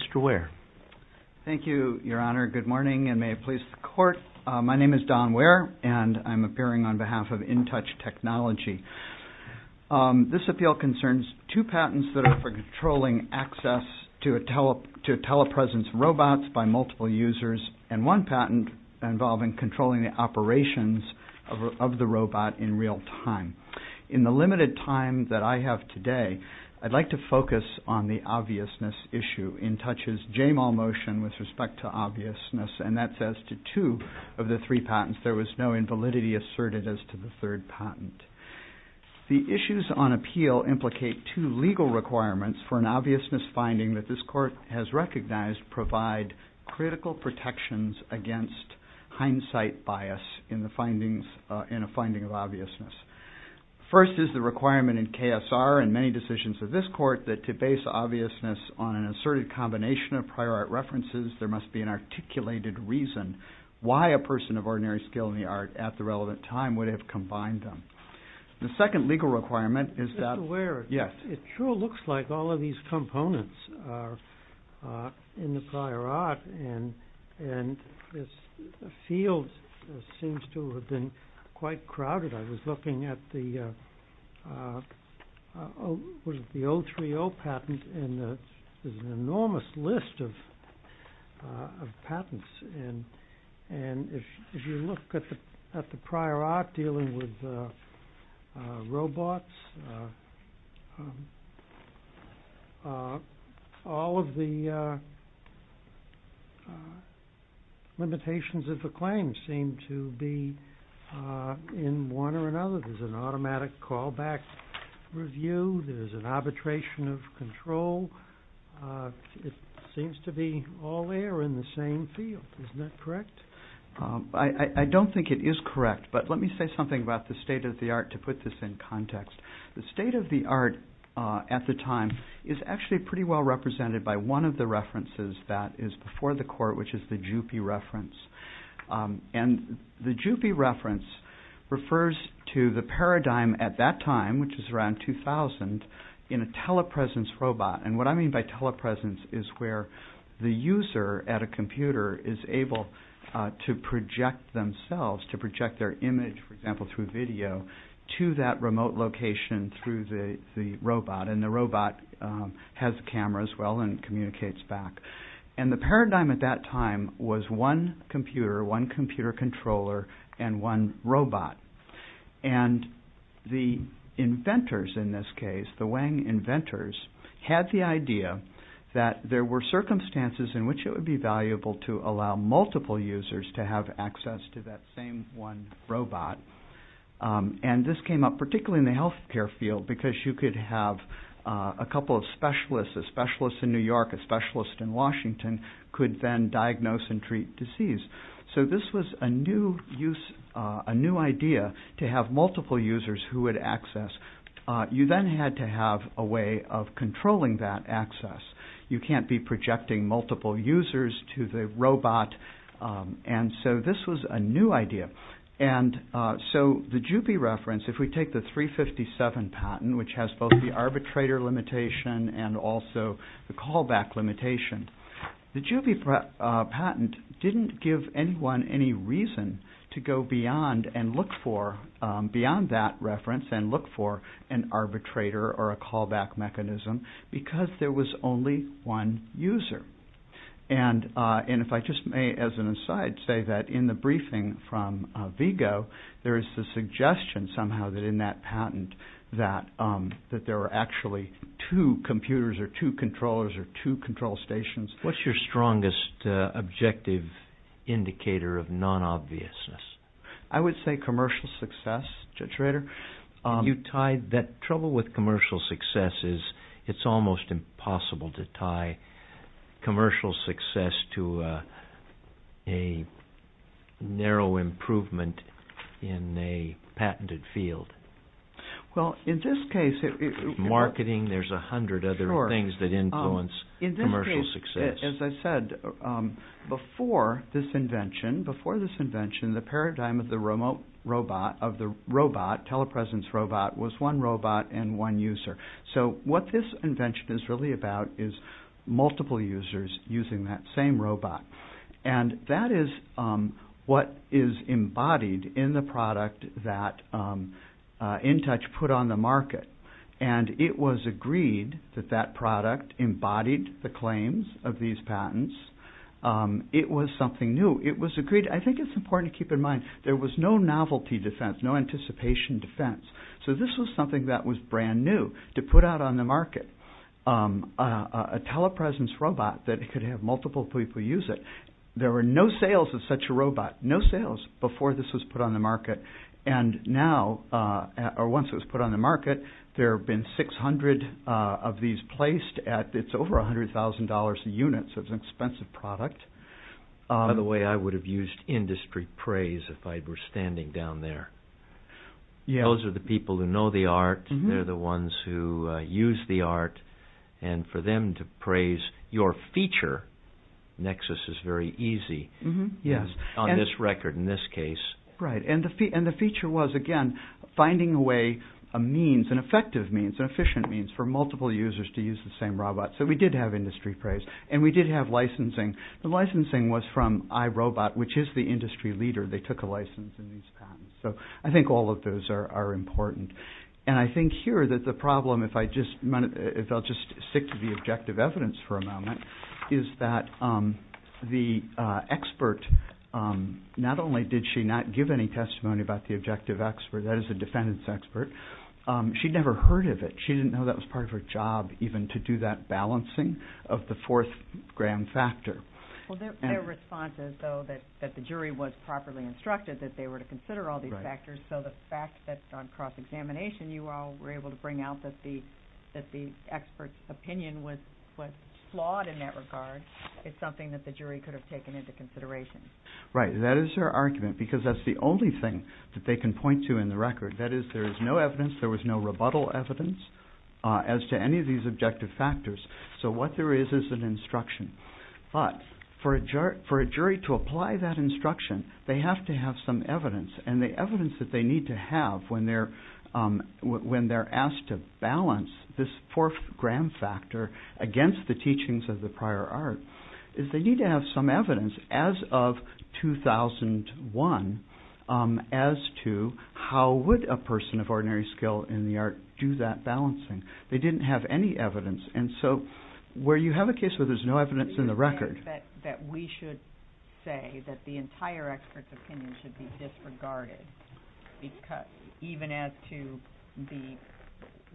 TOUCH TECHNOLOGIES v. VGO DR. DON WEIR. Thank you, Your Honor. Good morning, and may it please the Court. My name is Don Weir, and I am appearing on behalf of InTouch Technology. This appeal concerns two patents that are for controlling access to telepresence robots by multiple users, and one patent involving controlling the operations of the robot in real time. In the limited time that I have today, I would like to focus on the obviousness issue. InTouch's J-Mal motion with respect to obviousness, and that says to two of the patent. The issues on appeal implicate two legal requirements for an obviousness finding that this Court has recognized provide critical protections against hindsight bias in a finding of obviousness. First is the requirement in KSR and many decisions of this Court that to base obviousness on an asserted combination of prior art references, there must be an articulated reason why a person of ordinary skill in the art at the relevant time would have combined them. The second legal requirement is that... Mr. Weir, it sure looks like all of these components are in the prior art, and the field seems to have been quite crowded. I was looking at the 030 patent, and there's an enormous list of patents, and if you look at the prior art deal, there's an enormous list of patents, dealing with robots. All of the limitations of the claims seem to be in one or another. There's an automatic callback review. There's an arbitration of control. It seems to be all there in the same field. Isn't that correct? I don't think it is correct, but let me say something about the state of the art to put this in context. The state of the art at the time is actually pretty well represented by one of the references that is before the Court, which is the JUPI reference. The JUPI reference refers to the paradigm at that time, which is around 2000, in a telepresence robot. What I mean by telepresence is where the user at a computer is able to project themselves, to project their image, for example, through video, to that remote location through the robot, and the robot has a camera as well and communicates back. The paradigm at that time was one computer, one computer controller, and one robot. The inventors in this case, the Wang inventors, had the idea that there were circumstances in which it would be valuable to allow multiple users to have access to that same one robot. This came up particularly in the healthcare field because you could have a couple of specialists, a specialist in New York, a specialist in Washington, could then diagnose and treat disease. This was a new use, a new idea, to have multiple users who would access. You then had to have a way of controlling that access. You can't be projecting multiple users to the robot, and so this was a new idea. The JUPI reference, if we take the 357 patent, which has both the arbitrator limitation and also the callback limitation, the JUPI patent didn't give anyone any reason to go beyond and look for, beyond that reference, and look for an arbitrator or a callback mechanism because there was only one user. If I just may, as an aside, say that in the briefing from Vigo, there is the suggestion somehow that in that patent that there were actually two computers or two controllers or two control stations. What's your strongest objective indicator of non-obviousness? I would say commercial success, Judge Rader. You tied that trouble with commercial success, it's almost impossible to tie commercial success to a narrow improvement in a patented field. Well, in this case... Marketing, there's a hundred other things that influence commercial success. As I said, before this invention, the paradigm of the robot, telepresence robot, was one robot and one user. So what this invention is really about is multiple users using that same robot, and that is what is embodied in the product that InTouch put on the market, and it was agreed that that product embodied the claims of these patents. It was something new. It was agreed. I think it's important to keep in mind there was no novelty defense, no anticipation defense. So this was something that was brand new to put out on the market, a telepresence robot that could have multiple people use it. There were no sales of such a product. There have been 600 of these placed at over $100,000 a unit, so it's an expensive product. By the way, I would have used industry praise if I were standing down there. Those are the people who know the art, they're the ones who use the art, and for them to praise your feature, Nexus is very easy on this record in this case. Right, and the feature was, again, finding a way, a means, an effective means, an efficient means for multiple users to use the same robot. So we did have industry praise, and we did have licensing. The licensing was from iRobot, which is the industry leader. They took a license in these patents. So I think all of those are important, and I think here that the problem, if I just stick to the objective evidence for a moment, is that the expert, not only did she not give any testimony about the objective expert, that is the defendant's expert, she'd never heard of it. She didn't know that was part of her job, even, to do that balancing of the fourth grand factor. Well, their response is, though, that the jury was properly instructed that they were to consider all these factors, so the fact that on cross-examination you all were able to bring out that the expert's opinion was flawed in that regard is something that the jury can't do. Right, that is their argument, because that's the only thing that they can point to in the record. That is, there is no evidence, there was no rebuttal evidence as to any of these objective factors. So what there is is an instruction. But for a jury to apply that instruction, they have to have some evidence, and the evidence that they need to have when they're asked to balance this fourth grand factor against the teachings of the prior art, is they need to have some evidence as of 2001 as to how would a person of ordinary skill in the art do that balancing. They didn't have any evidence, and so where you have a case where there's no evidence in the record... That we should say that the entire expert's opinion should be disregarded, even as to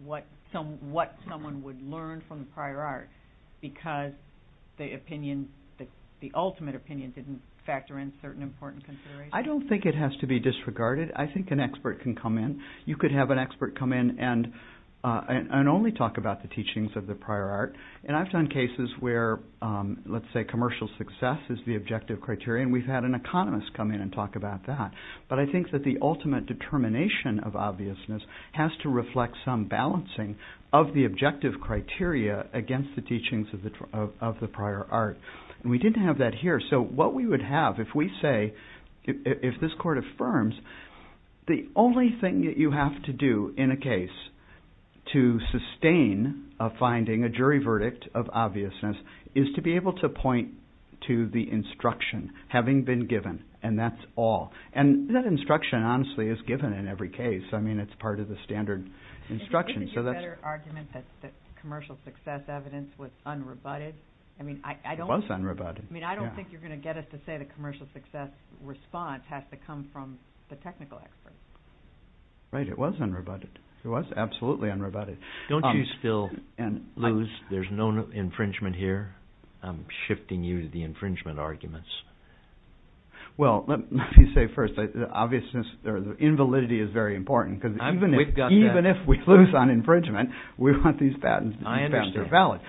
what someone would learn from the prior art, because the ultimate opinion didn't factor in certain important considerations. I don't think it has to be disregarded. I think an expert can come in. You could have an expert come in and only talk about the teachings of the prior art. And I've done cases where, let's say commercial success is the objective criteria, and we've had an economist come in and talk about that. But I think that the ultimate determination of the prior art is to reflect some balancing of the objective criteria against the teachings of the prior art. And we didn't have that here, so what we would have if we say, if this court affirms, the only thing that you have to do in a case to sustain a finding, a jury verdict of obviousness, is to be able to point to the instruction having been given, and that's all. And that instruction, honestly, is given in every case. I mean, it's part of the standard instruction. Isn't it your better argument that commercial success evidence was unrebutted? It was unrebutted. I mean, I don't think you're going to get us to say the commercial success response has to come from the technical expert. Right, it was unrebutted. It was absolutely unrebutted. Don't you still lose, there's no infringement here? I'm shifting you to the infringement arguments. Well, let me say first, the obviousness or the invalidity is very important, because even if we lose on infringement, we want these patents to be valid.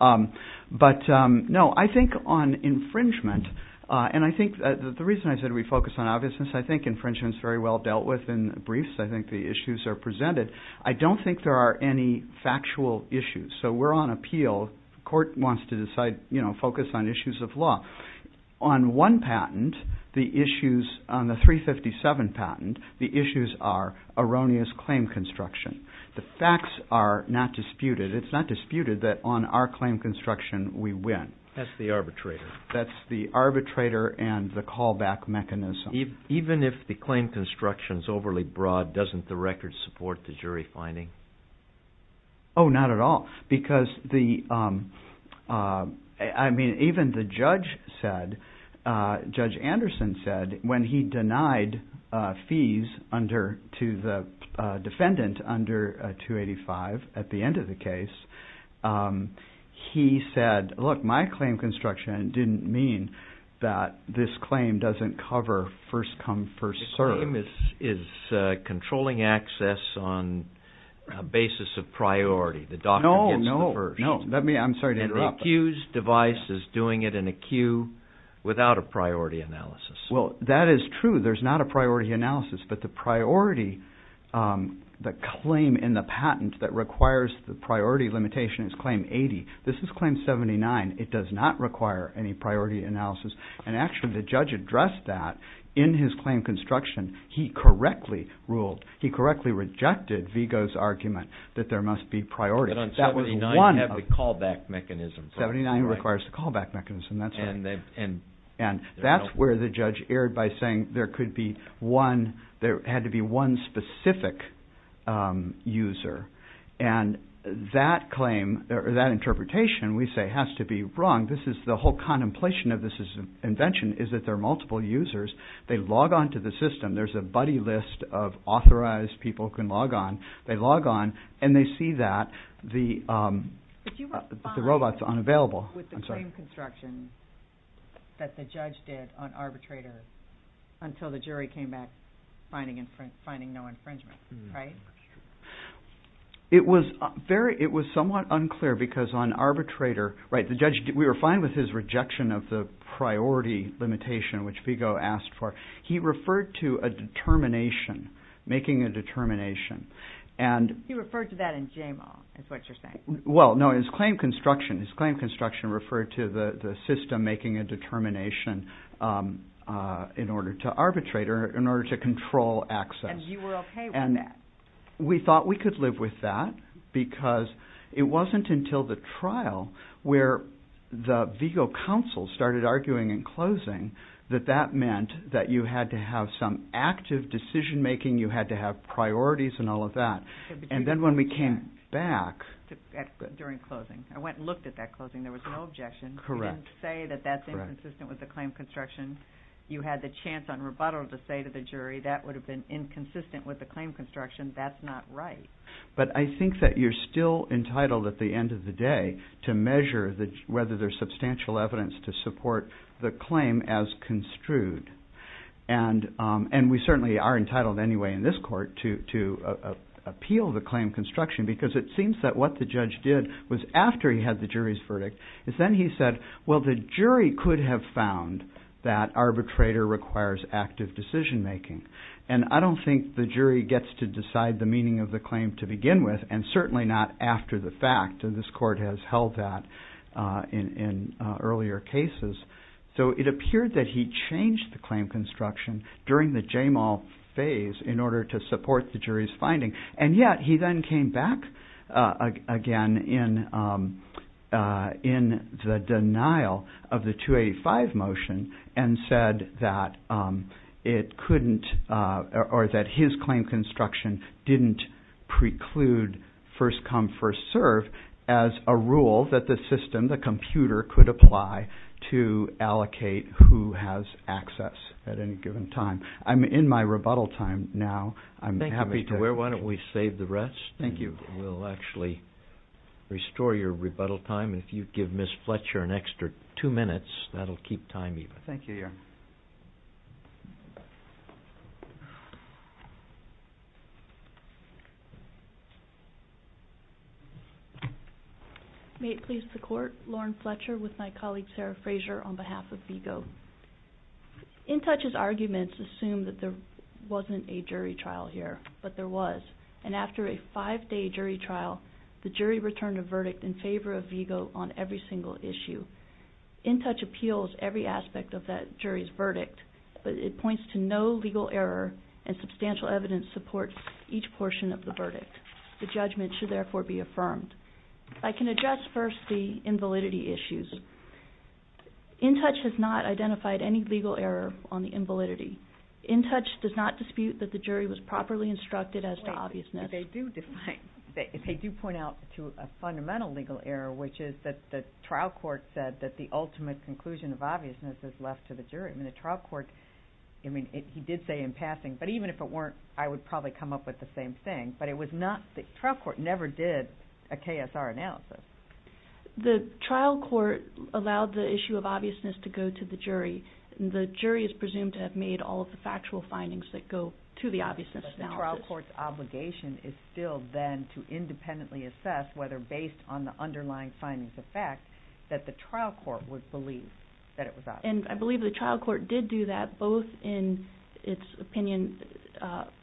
I understand. But no, I think on infringement, and I think the reason I said we focus on obviousness, I think infringement is very well dealt with in briefs. I think the issues are presented. I don't think there are any factual issues, so we're on appeal. The court wants to decide, focus on issues of law. On one patent, the issues on the 357 patent, the issues are erroneous claim construction. The facts are not disputed. It's not disputed that on our claim construction, we win. That's the arbitrator. That's the arbitrator and the callback mechanism. Even if the claim construction is overly broad, doesn't the record support the jury finding? Oh, not at all, because even the judge said, Judge Anderson said, when he denied fees to the defendant under 285 at the end of the case, he said, look, my claim construction didn't mean that this claim doesn't cover first come, first serve. The claim is controlling access on a basis of priority. The doctor gets the first. No, no, no. I'm sorry to interrupt. And the accused device is doing it in a queue without a priority analysis. Well, that is true. There's not a priority analysis, but the priority, the claim in the patent that requires the priority limitation is claim 80. This is claim 79. It does not require any priority analysis, and actually the judge addressed that in his claim construction. He correctly ruled, he correctly rejected Vigo's argument that there must be priority. But on 79, you have the callback mechanism. 79 requires the callback mechanism, that's right. And that's where the judge erred by saying there could be one, there had to be one specific user. And that claim, that interpretation, we say has to be wrong. This is the whole contemplation of this invention is that there are multiple users. They log on to the system. There's a buddy list of authorized people who can log on. They log on, and they see that the robot's unavailable. But you were fine with the claim construction that the judge did on arbitrator until the jury came back finding no infringement, right? It was somewhat unclear because on arbitrator, right, the judge, we were fine with his rejection of the priority limitation, which Vigo asked for. He referred to a determination, making a determination. He referred to that in JMAW is what you're saying. Well, no, his claim construction referred to the system making a determination in order to arbitrator, in order to control access. And you were okay with that. We thought we could live with that because it wasn't until the trial where the Vigo counsel started arguing in closing that that meant that you had to have some active decision making. You had to have priorities and all of that. And then when we came back. During closing. I went and looked at that closing. There was no objection. Correct. You didn't say that that's inconsistent with the claim construction. You had the chance on rebuttal to say to the jury that would have been inconsistent with the claim construction. That's not right. But I think that you're still entitled at the end of the day to measure whether there's substantial evidence to support the claim as construed. And we certainly are entitled anyway in this court to appeal the claim construction because it seems that what the judge did was after he had the jury's verdict, is then he said, well, the jury could have found that arbitrator requires active decision making. And I don't think the jury gets to decide the meaning of the claim to begin with. And certainly not after the fact. And this court has held that in earlier cases. So it appeared that he changed the claim construction during the Jamal phase in order to support the jury's finding. And yet he then came back again in the denial of the 285 motion and said that it couldn't, or that his claim construction didn't preclude first come first serve as a rule that the system, the computer could apply to allocate who has access at any given time. I'm in my rebuttal time now. I'm happy to wear. Why don't we save the rest? Thank you. We'll actually restore your rebuttal time. If you give Ms. Fletcher an extra two minutes, that'll keep time even. Thank you, Your Honor. May it please the court. Lauren Fletcher with my colleague, Sarah Fraser, on behalf of VIGO. InTouch's arguments assume that there wasn't a jury trial here, but there was. And after a five-day jury trial, the jury returned a verdict in favor of VIGO on every single issue. InTouch appeals every aspect of that jury's verdict, but it points to no legal error and substantial evidence supports each portion of the verdict. The judgment should therefore be affirmed. I can address first the invalidity issues. InTouch has not identified any legal error on the invalidity. InTouch does not dispute that the jury was properly instructed as to obviousness. They do point out to a fundamental legal error, which is that the trial court said that the ultimate conclusion of obviousness is left to the jury. I mean, the trial court, I mean, he did say in passing, but even if it weren't, I would probably come up with the same thing. But the trial court never did a KSR analysis. The trial court allowed the issue of obviousness to go to the jury. The jury is presumed to have made all of the factual findings that go to the obviousness analysis. But the trial court's obligation is still then to independently assess whether, based on the underlying findings of fact, that the trial court would believe that it was obvious. And I believe the trial court did do that, both in its opinion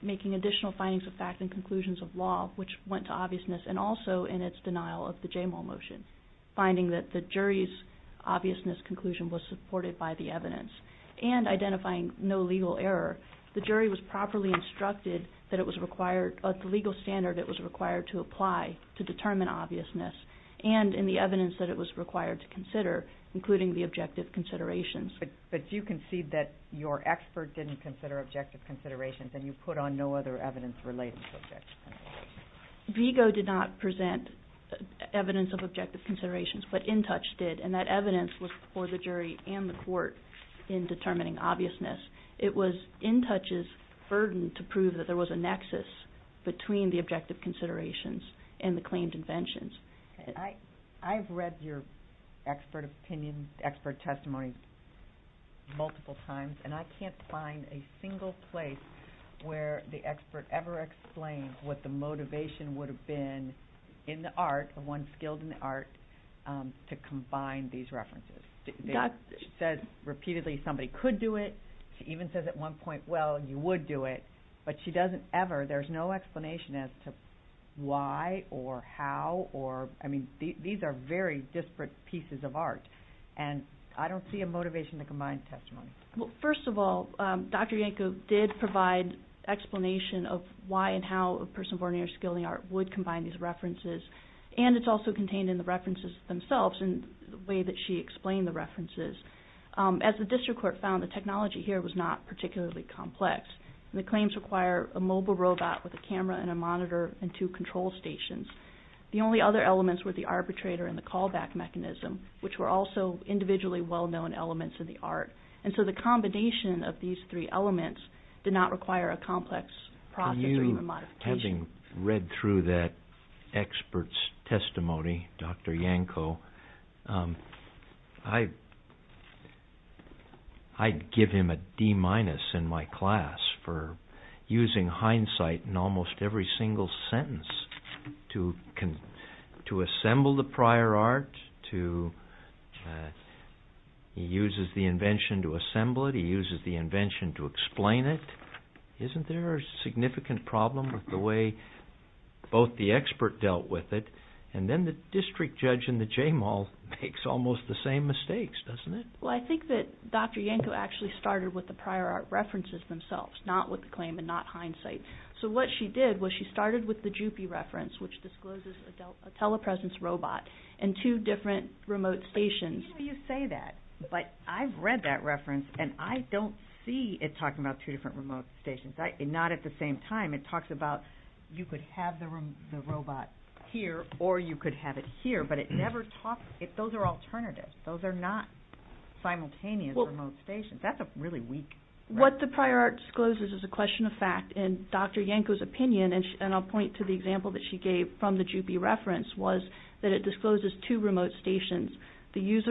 making additional findings of fact and conclusions of law, which went to obviousness, and also in its denial of the JMOL motion, finding that the jury's obviousness conclusion was supported by the evidence, and identifying no legal error. The jury was properly instructed that it was required, at the legal standard it was required to apply to determine obviousness, and in the evidence that it was required to consider, including the objective considerations. But you concede that your expert didn't consider objective considerations and you put on no other evidence relating to objective considerations. Vigo did not present evidence of objective considerations, but InTouch did, and that evidence was for the jury and the court in determining obviousness. It was InTouch's burden to prove that there was a nexus between the objective considerations and the claimed inventions. I've read your expert opinion, expert testimony multiple times, and I can't find a single place where the expert ever explains what the motivation would have been in the art, the one skilled in the art, to combine these references. She says repeatedly somebody could do it. She even says at one point, well, you would do it, but she doesn't ever. There's no explanation as to why or how or, I mean, these are very disparate pieces of art, and I don't see a motivation to combine testimony. Well, first of all, Dr. Yankov did provide explanation of why and how a person born near skilled in the art would combine these references, and it's also contained in the references themselves in the way that she explained the references. As the district court found, the technology here was not particularly complex. The claims require a mobile robot with a camera and a monitor and two control stations. The only other elements were the arbitrator and the callback mechanism, which were also individually well-known elements in the art. And so the combination of these three elements did not require a complex process or even modification. Having read through that expert's testimony, Dr. Yankov, I'd give him a D minus in my class for using hindsight in almost every single sentence to assemble the prior art. He uses the invention to assemble it. He uses the invention to explain it. Isn't there a significant problem with the way both the expert dealt with it, and then the district judge in the J-Mall makes almost the same mistakes, doesn't it? Well, I think that Dr. Yankov actually started with the prior art references themselves, not with the claim and not hindsight. So what she did was she started with the JUPI reference, which discloses a telepresence robot and two different remote stations. I hear you say that, but I've read that reference, and I don't see it talking about two different remote stations, not at the same time. It talks about you could have the robot here or you could have it here, but it never talksóthose are alternatives. Those are not simultaneous remote stations. That's a really weak reference. What the prior art discloses is a question of fact, and Dr. Yankov's opinionó and I'll point to the example that she gave from the JUPI referenceó was that it discloses two remote stations, the user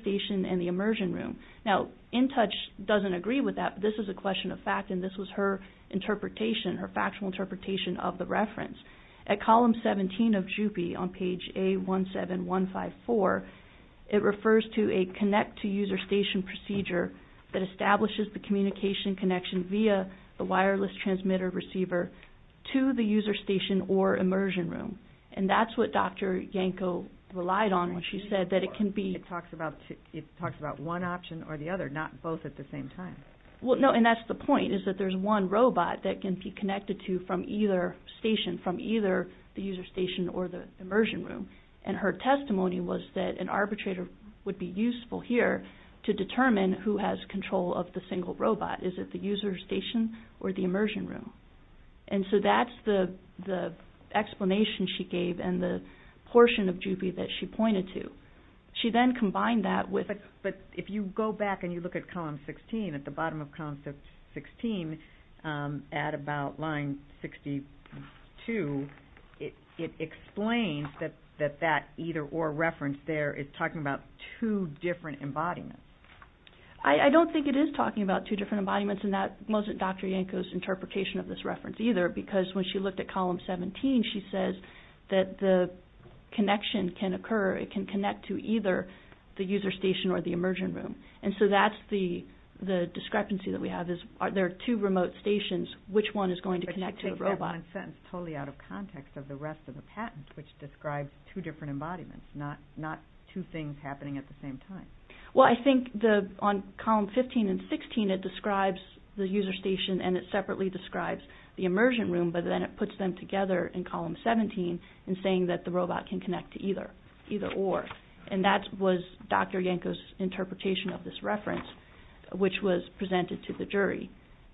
station and the immersion room. Now, InTouch doesn't agree with that, but this is a question of fact, and this was her interpretation, her factual interpretation of the reference. At column 17 of JUPI on page A17154, it refers to a connect-to-user-station procedure that establishes the communication connection via the wireless transmitter receiver to the user station or immersion room, and that's what Dr. Yankov relied on when she said that it can beó It talks about one option or the other, not both at the same time. No, and that's the point, is that there's one robot that can be connected to from either station, from either the user station or the immersion room, and her testimony was that an arbitrator would be useful here to determine who has control of the single robot. Is it the user station or the immersion room? And so that's the explanation she gave and the portion of JUPI that she pointed to. She then combined that withó But if you go back and you look at column 16, at the bottom of column 16, at about line 62, it explains that that either-or reference there is talking about two different embodiments. I don't think it is talking about two different embodiments, and that wasn't Dr. Yankov's interpretation of this reference either because when she looked at column 17, she says that the connection can occuró it can connect to either the user station or the immersion room. And so that's the discrepancy that we have, I think that's one sentence totally out of context of the rest of the patent, which describes two different embodiments, not two things happening at the same time. Well, I think on column 15 and 16, it describes the user station and it separately describes the immersion room, but then it puts them together in column 17 in saying that the robot can connect to either-or, and that was Dr. Yankov's interpretation of this reference, which was presented to the jury.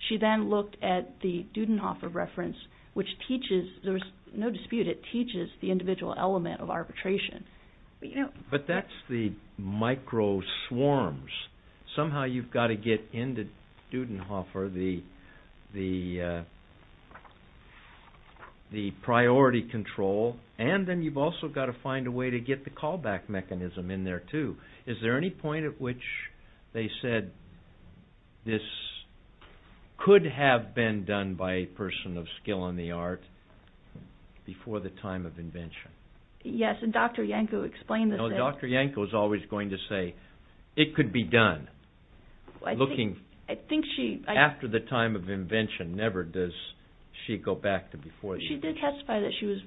She then looked at the Dudenhofer reference, which teachesóthere's no disputeó it teaches the individual element of arbitration. But that's the micro swarms. Somehow you've got to get into Dudenhofer the priority control, and then you've also got to find a way to get the callback mechanism in there too. Is there any point at which they said this could have been done by a person of skill in the art before the time of invention? Yes, and Dr. Yankov explained thisó No, Dr. Yankov's always going to say it could be done. I think sheó After the time of invention, never does she go back to before the invention. She did testify that she was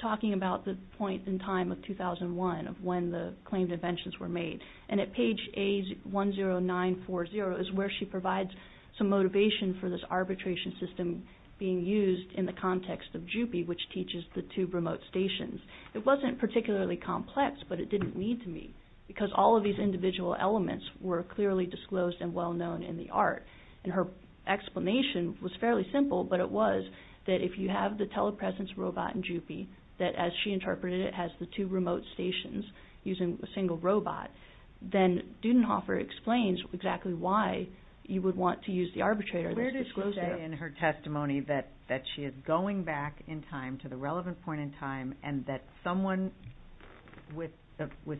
talking about the point in time of 2001 of when the claimed inventions were made, and at page A10940 is where she provides some motivation for this arbitration system being used in the context of JUPI, which teaches the two remote stations. It wasn't particularly complex, but it didn't lead to me, because all of these individual elements were clearly disclosed and well-known in the art. Her explanation was fairly simple, but it was that if you have the telepresence robot in JUPI, that, as she interpreted it, has the two remote stations using a single robot, then Dudenhofer explains exactly why you would want to use the arbitrator. Where does she say in her testimony that she is going back in time to the relevant point in time and that someone with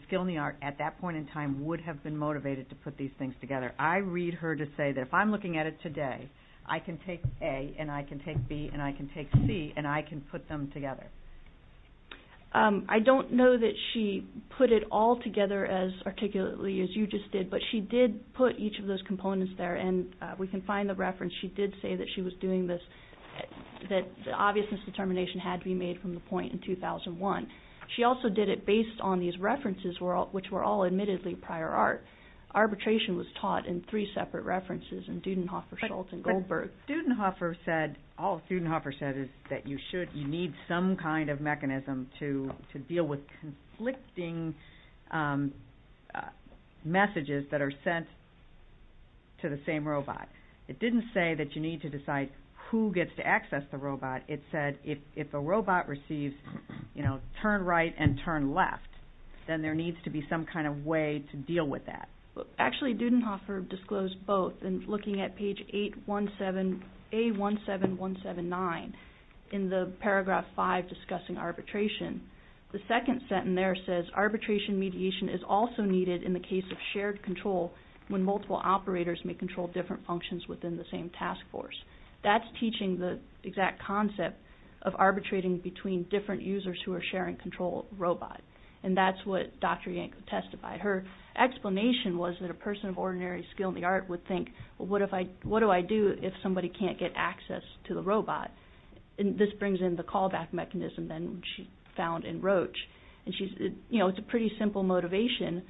skill in the art at that point in time would have been motivated to put these things together? I read her to say that if I'm looking at it today, I can take A and I can take B and I can take C and I can put them together. I don't know that she put it all together as articulately as you just did, but she did put each of those components there, and we can find the reference. She did say that she was doing this, that the obviousness determination had to be made from the point in 2001. She also did it based on these references, which were all admittedly prior art. Arbitration was taught in three separate references in Dudenhofer, Schultz, and Goldberg. All Dudenhofer said is that you need some kind of mechanism to deal with conflicting messages that are sent to the same robot. It didn't say that you need to decide who gets to access the robot. It said if the robot receives turn right and turn left, then there needs to be some kind of way to deal with that. Actually, Dudenhofer disclosed both. Looking at page A17179 in the paragraph 5 discussing arbitration, the second sentence there says, arbitration mediation is also needed in the case of shared control when multiple operators may control different functions within the same task force. That's teaching the exact concept of arbitrating between different users who are sharing control of the robot, and that's what Dr. Yank would testify. Her explanation was that a person of ordinary skill in the art of robotics would think, well, what do I do if somebody can't get access to the robot? This brings in the callback mechanism that she found in Roche. It's a pretty simple motivation,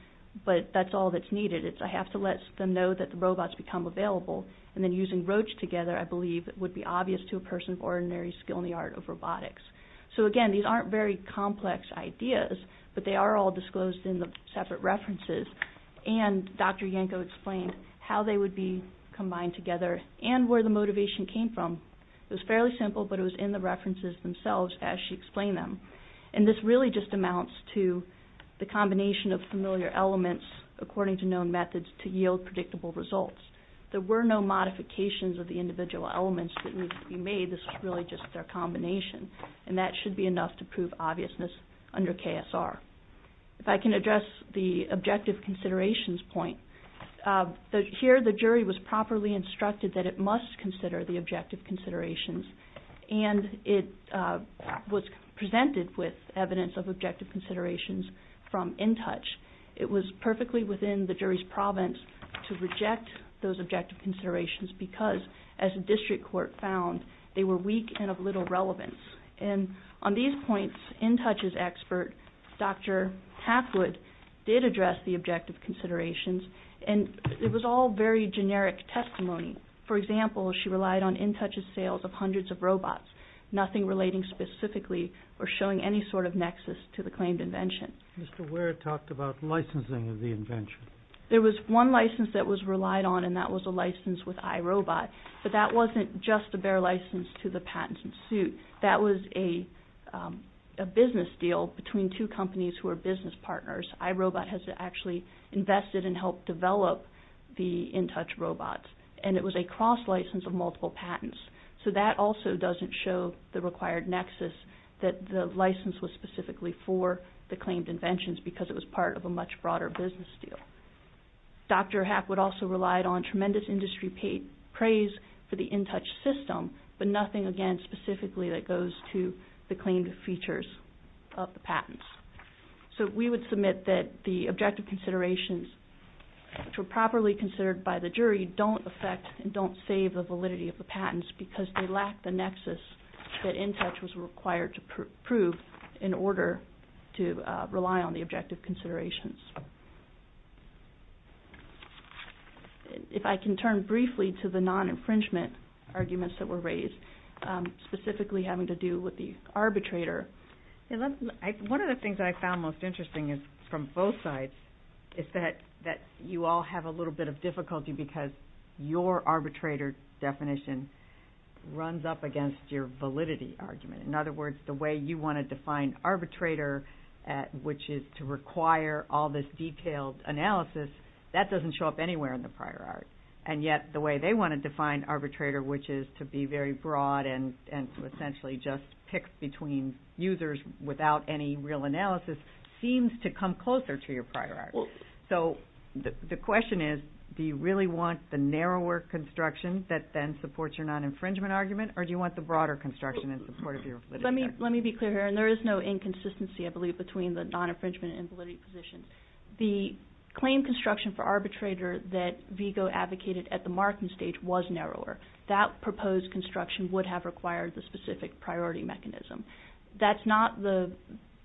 but that's all that's needed. It's I have to let them know that the robots become available, and then using Roche together, I believe, would be obvious to a person of ordinary skill in the art of robotics. Again, these aren't very complex ideas, but they are all disclosed in the separate references. And Dr. Yanko explained how they would be combined together and where the motivation came from. It was fairly simple, but it was in the references themselves as she explained them. And this really just amounts to the combination of familiar elements, according to known methods, to yield predictable results. There were no modifications of the individual elements that needed to be made. This was really just their combination, and that should be enough to prove obviousness under KSR. If I can address the objective considerations point. Here the jury was properly instructed that it must consider the objective considerations, and it was presented with evidence of objective considerations from InTouch. It was perfectly within the jury's province to reject those objective considerations because, as the district court found, they were weak and of little relevance. And on these points, InTouch's expert, Dr. Hathwood, did address the objective considerations, and it was all very generic testimony. For example, she relied on InTouch's sales of hundreds of robots, nothing relating specifically or showing any sort of nexus to the claimed invention. Mr. Ware talked about licensing of the invention. There was one license that was relied on, and that was a license with iRobot, but that wasn't just a bare license to the patents in suit. That was a business deal between two companies who are business partners. iRobot has actually invested and helped develop the InTouch robots, and it was a cross-license of multiple patents. So that also doesn't show the required nexus that the license was specifically for the claimed inventions because it was part of a much broader business deal. Dr. Hathwood also relied on tremendous industry praise for the InTouch system, but nothing, again, specifically that goes to the claimed features of the patents. So we would submit that the objective considerations, which were properly considered by the jury, don't affect and don't save the validity of the patents because they lack the nexus that InTouch was required to prove in order to rely on the objective considerations. If I can turn briefly to the non-infringement arguments that were raised, specifically having to do with the arbitrator. One of the things I found most interesting from both sides is that you all have a little bit of difficulty because your arbitrator definition runs up against your validity argument. In other words, the way you want to define arbitrator, which is to require all this detailed analysis, that doesn't show up anywhere in the prior art. And yet the way they want to define arbitrator, which is to be very broad and to essentially just pick between users without any real analysis, seems to come closer to your prior art. So the question is, do you really want the narrower construction that then supports your non-infringement argument, or do you want the broader construction in support of your validity argument? Let me be clear here, and there is no inconsistency, I believe, between the non-infringement and validity position. The claim construction for arbitrator that VIGO advocated at the marking stage was narrower. That proposed construction would have required the specific priority mechanism. That's not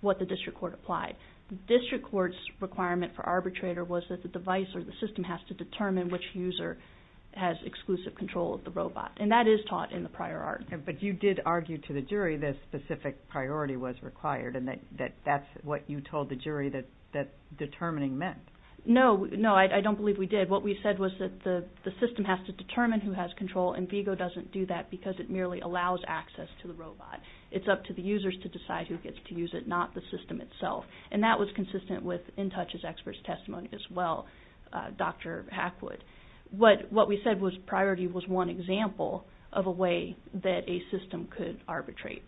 what the district court applied. The district court's requirement for arbitrator was that the device or the system has to determine which user has exclusive control of the robot, and that is taught in the prior art. But you did argue to the jury that specific priority was required, and that's what you told the jury that determining meant. No, I don't believe we did. What we said was that the system has to determine who has control, and VIGO doesn't do that because it merely allows access to the robot. It's up to the users to decide who gets to use it, not the system itself. And that was consistent with InTouch's expert's testimony as well, Dr. Hackwood. What we said was priority was one example of a way that a system could arbitrate.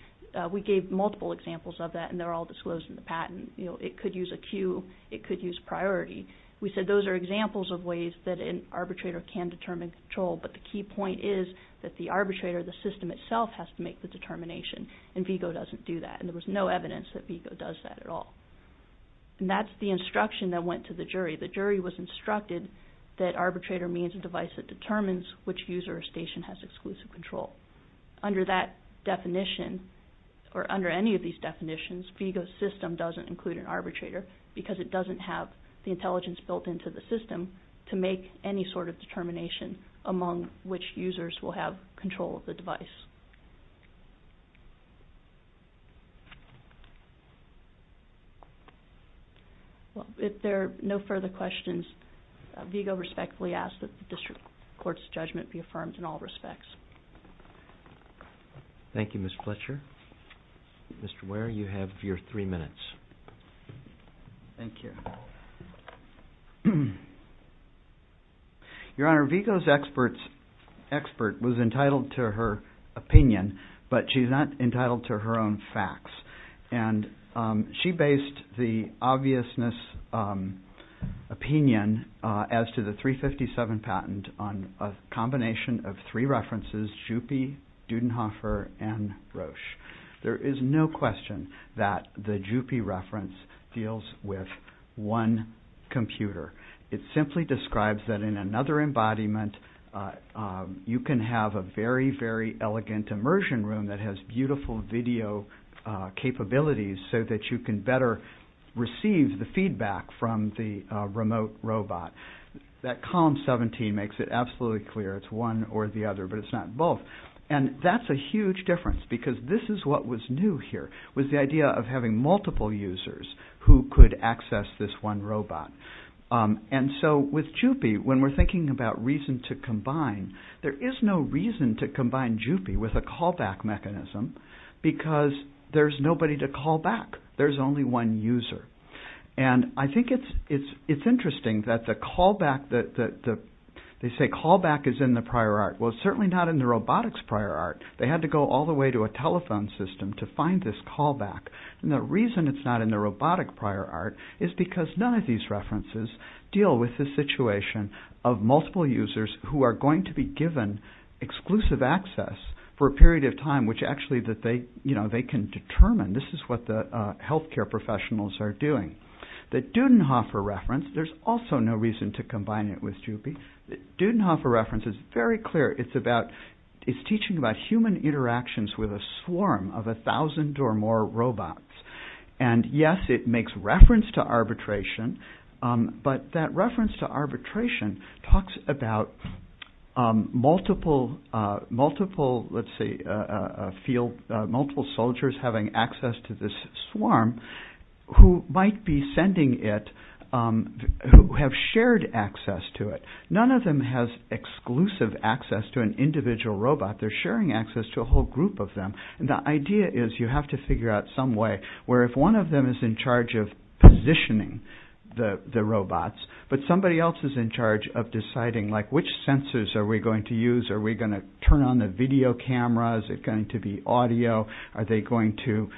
We gave multiple examples of that, and they're all disclosed in the patent. It could use a cue, it could use priority. We said those are examples of ways that an arbitrator can determine control, but the key point is that the arbitrator, the system itself, has to make the determination, and VIGO doesn't do that, and there was no evidence that VIGO does that at all. And that's the instruction that went to the jury. The jury was instructed that arbitrator means a device that determines which user or station has exclusive control. Under that definition, or under any of these definitions, VIGO's system doesn't include an arbitrator because it doesn't have the intelligence built into the system to make any sort of determination among which users will have control of the device. Well, if there are no further questions, VIGO respectfully asks that the district court's judgment be affirmed in all respects. Thank you, Ms. Fletcher. Mr. Ware, you have your three minutes. Thank you. Your Honor, VIGO's expert was entitled to her testimony and her opinion, but she's not entitled to her own facts. And she based the obviousness opinion as to the 357 patent on a combination of three references, JUPI, Dudenhofer, and Roche. There is no question that the JUPI reference deals with one computer. It simply describes that in another embodiment, you can have a very, very elegant immersion room that has beautiful video capabilities so that you can better receive the feedback from the remote robot. That column 17 makes it absolutely clear it's one or the other, but it's not both. And that's a huge difference because this is what was new here was the idea of having multiple users who could access this one robot. And so with JUPI, when we're thinking about reason to combine, there is no reason to combine JUPI with a callback mechanism because there's nobody to call back. There's only one user. And I think it's interesting that they say callback is in the prior art. Well, it's certainly not in the robotics prior art. They had to go all the way to a telephone system to find this callback. And the reason it's not in the robotic prior art is because none of these references deal with the situation of multiple users who are going to be given exclusive access for a period of time which actually they can determine. This is what the health care professionals are doing. The Dudenhofer reference, there's also no reason to combine it with JUPI. The Dudenhofer reference is very clear. It's teaching about human interactions with a swarm of a thousand or more robots. And, yes, it makes reference to arbitration, but that reference to arbitration talks about multiple soldiers having access to this swarm who might be sending it, who have shared access to it. None of them has exclusive access to an individual robot. They're sharing access to a whole group of them. And the idea is you have to figure out some way where if one of them is in charge of positioning the robots but somebody else is in charge of deciding, like, which sensors are we going to use? Are we going to turn on the video cameras? Is it going to be audio? Are they going to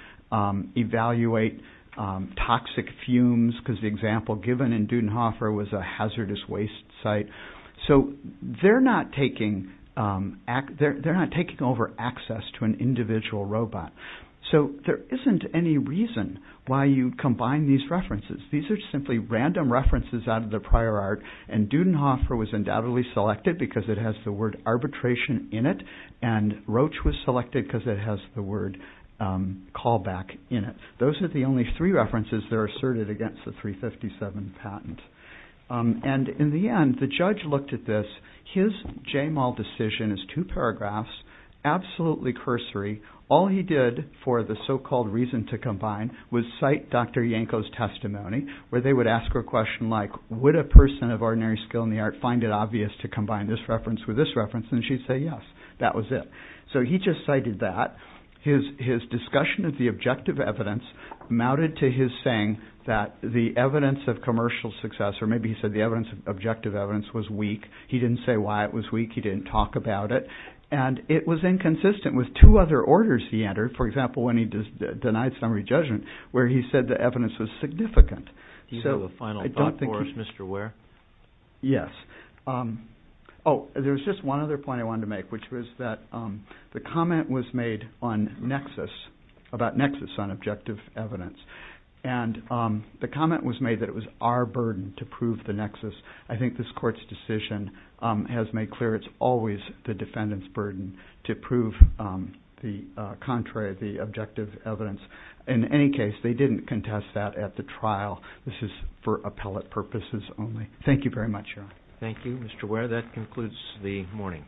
evaluate toxic fumes? Because the example given in Dudenhofer was a hazardous waste site. So they're not taking over access to an individual robot. So there isn't any reason why you combine these references. These are simply random references out of the prior art, and Dudenhofer was undoubtedly selected because it has the word arbitration in it, and Roche was selected because it has the word callback in it. Those are the only three references that are asserted against the 357 patent. And in the end, the judge looked at this. His JMAL decision is two paragraphs, absolutely cursory. All he did for the so-called reason to combine was cite Dr. Yanko's testimony, where they would ask her a question like, would a person of ordinary skill in the art find it obvious to combine this reference with this reference? And she'd say, yes, that was it. So he just cited that. His discussion of the objective evidence mounted to his saying that the evidence of commercial success, or maybe he said the objective evidence was weak. He didn't say why it was weak. He didn't talk about it. And it was inconsistent with two other orders he entered, for example, when he denied summary judgment, where he said the evidence was significant. Do you have a final thought for us, Mr. Ware? Yes. Oh, there was just one other point I wanted to make, which was that the comment was made on nexus, about nexus on objective evidence. And the comment was made that it was our burden to prove the nexus. I think this Court's decision has made clear it's always the defendant's burden to prove the contrary, the objective evidence. In any case, they didn't contest that at the trial. This is for appellate purposes only. Thank you very much, Your Honor. Thank you, Mr. Ware. That concludes the morning.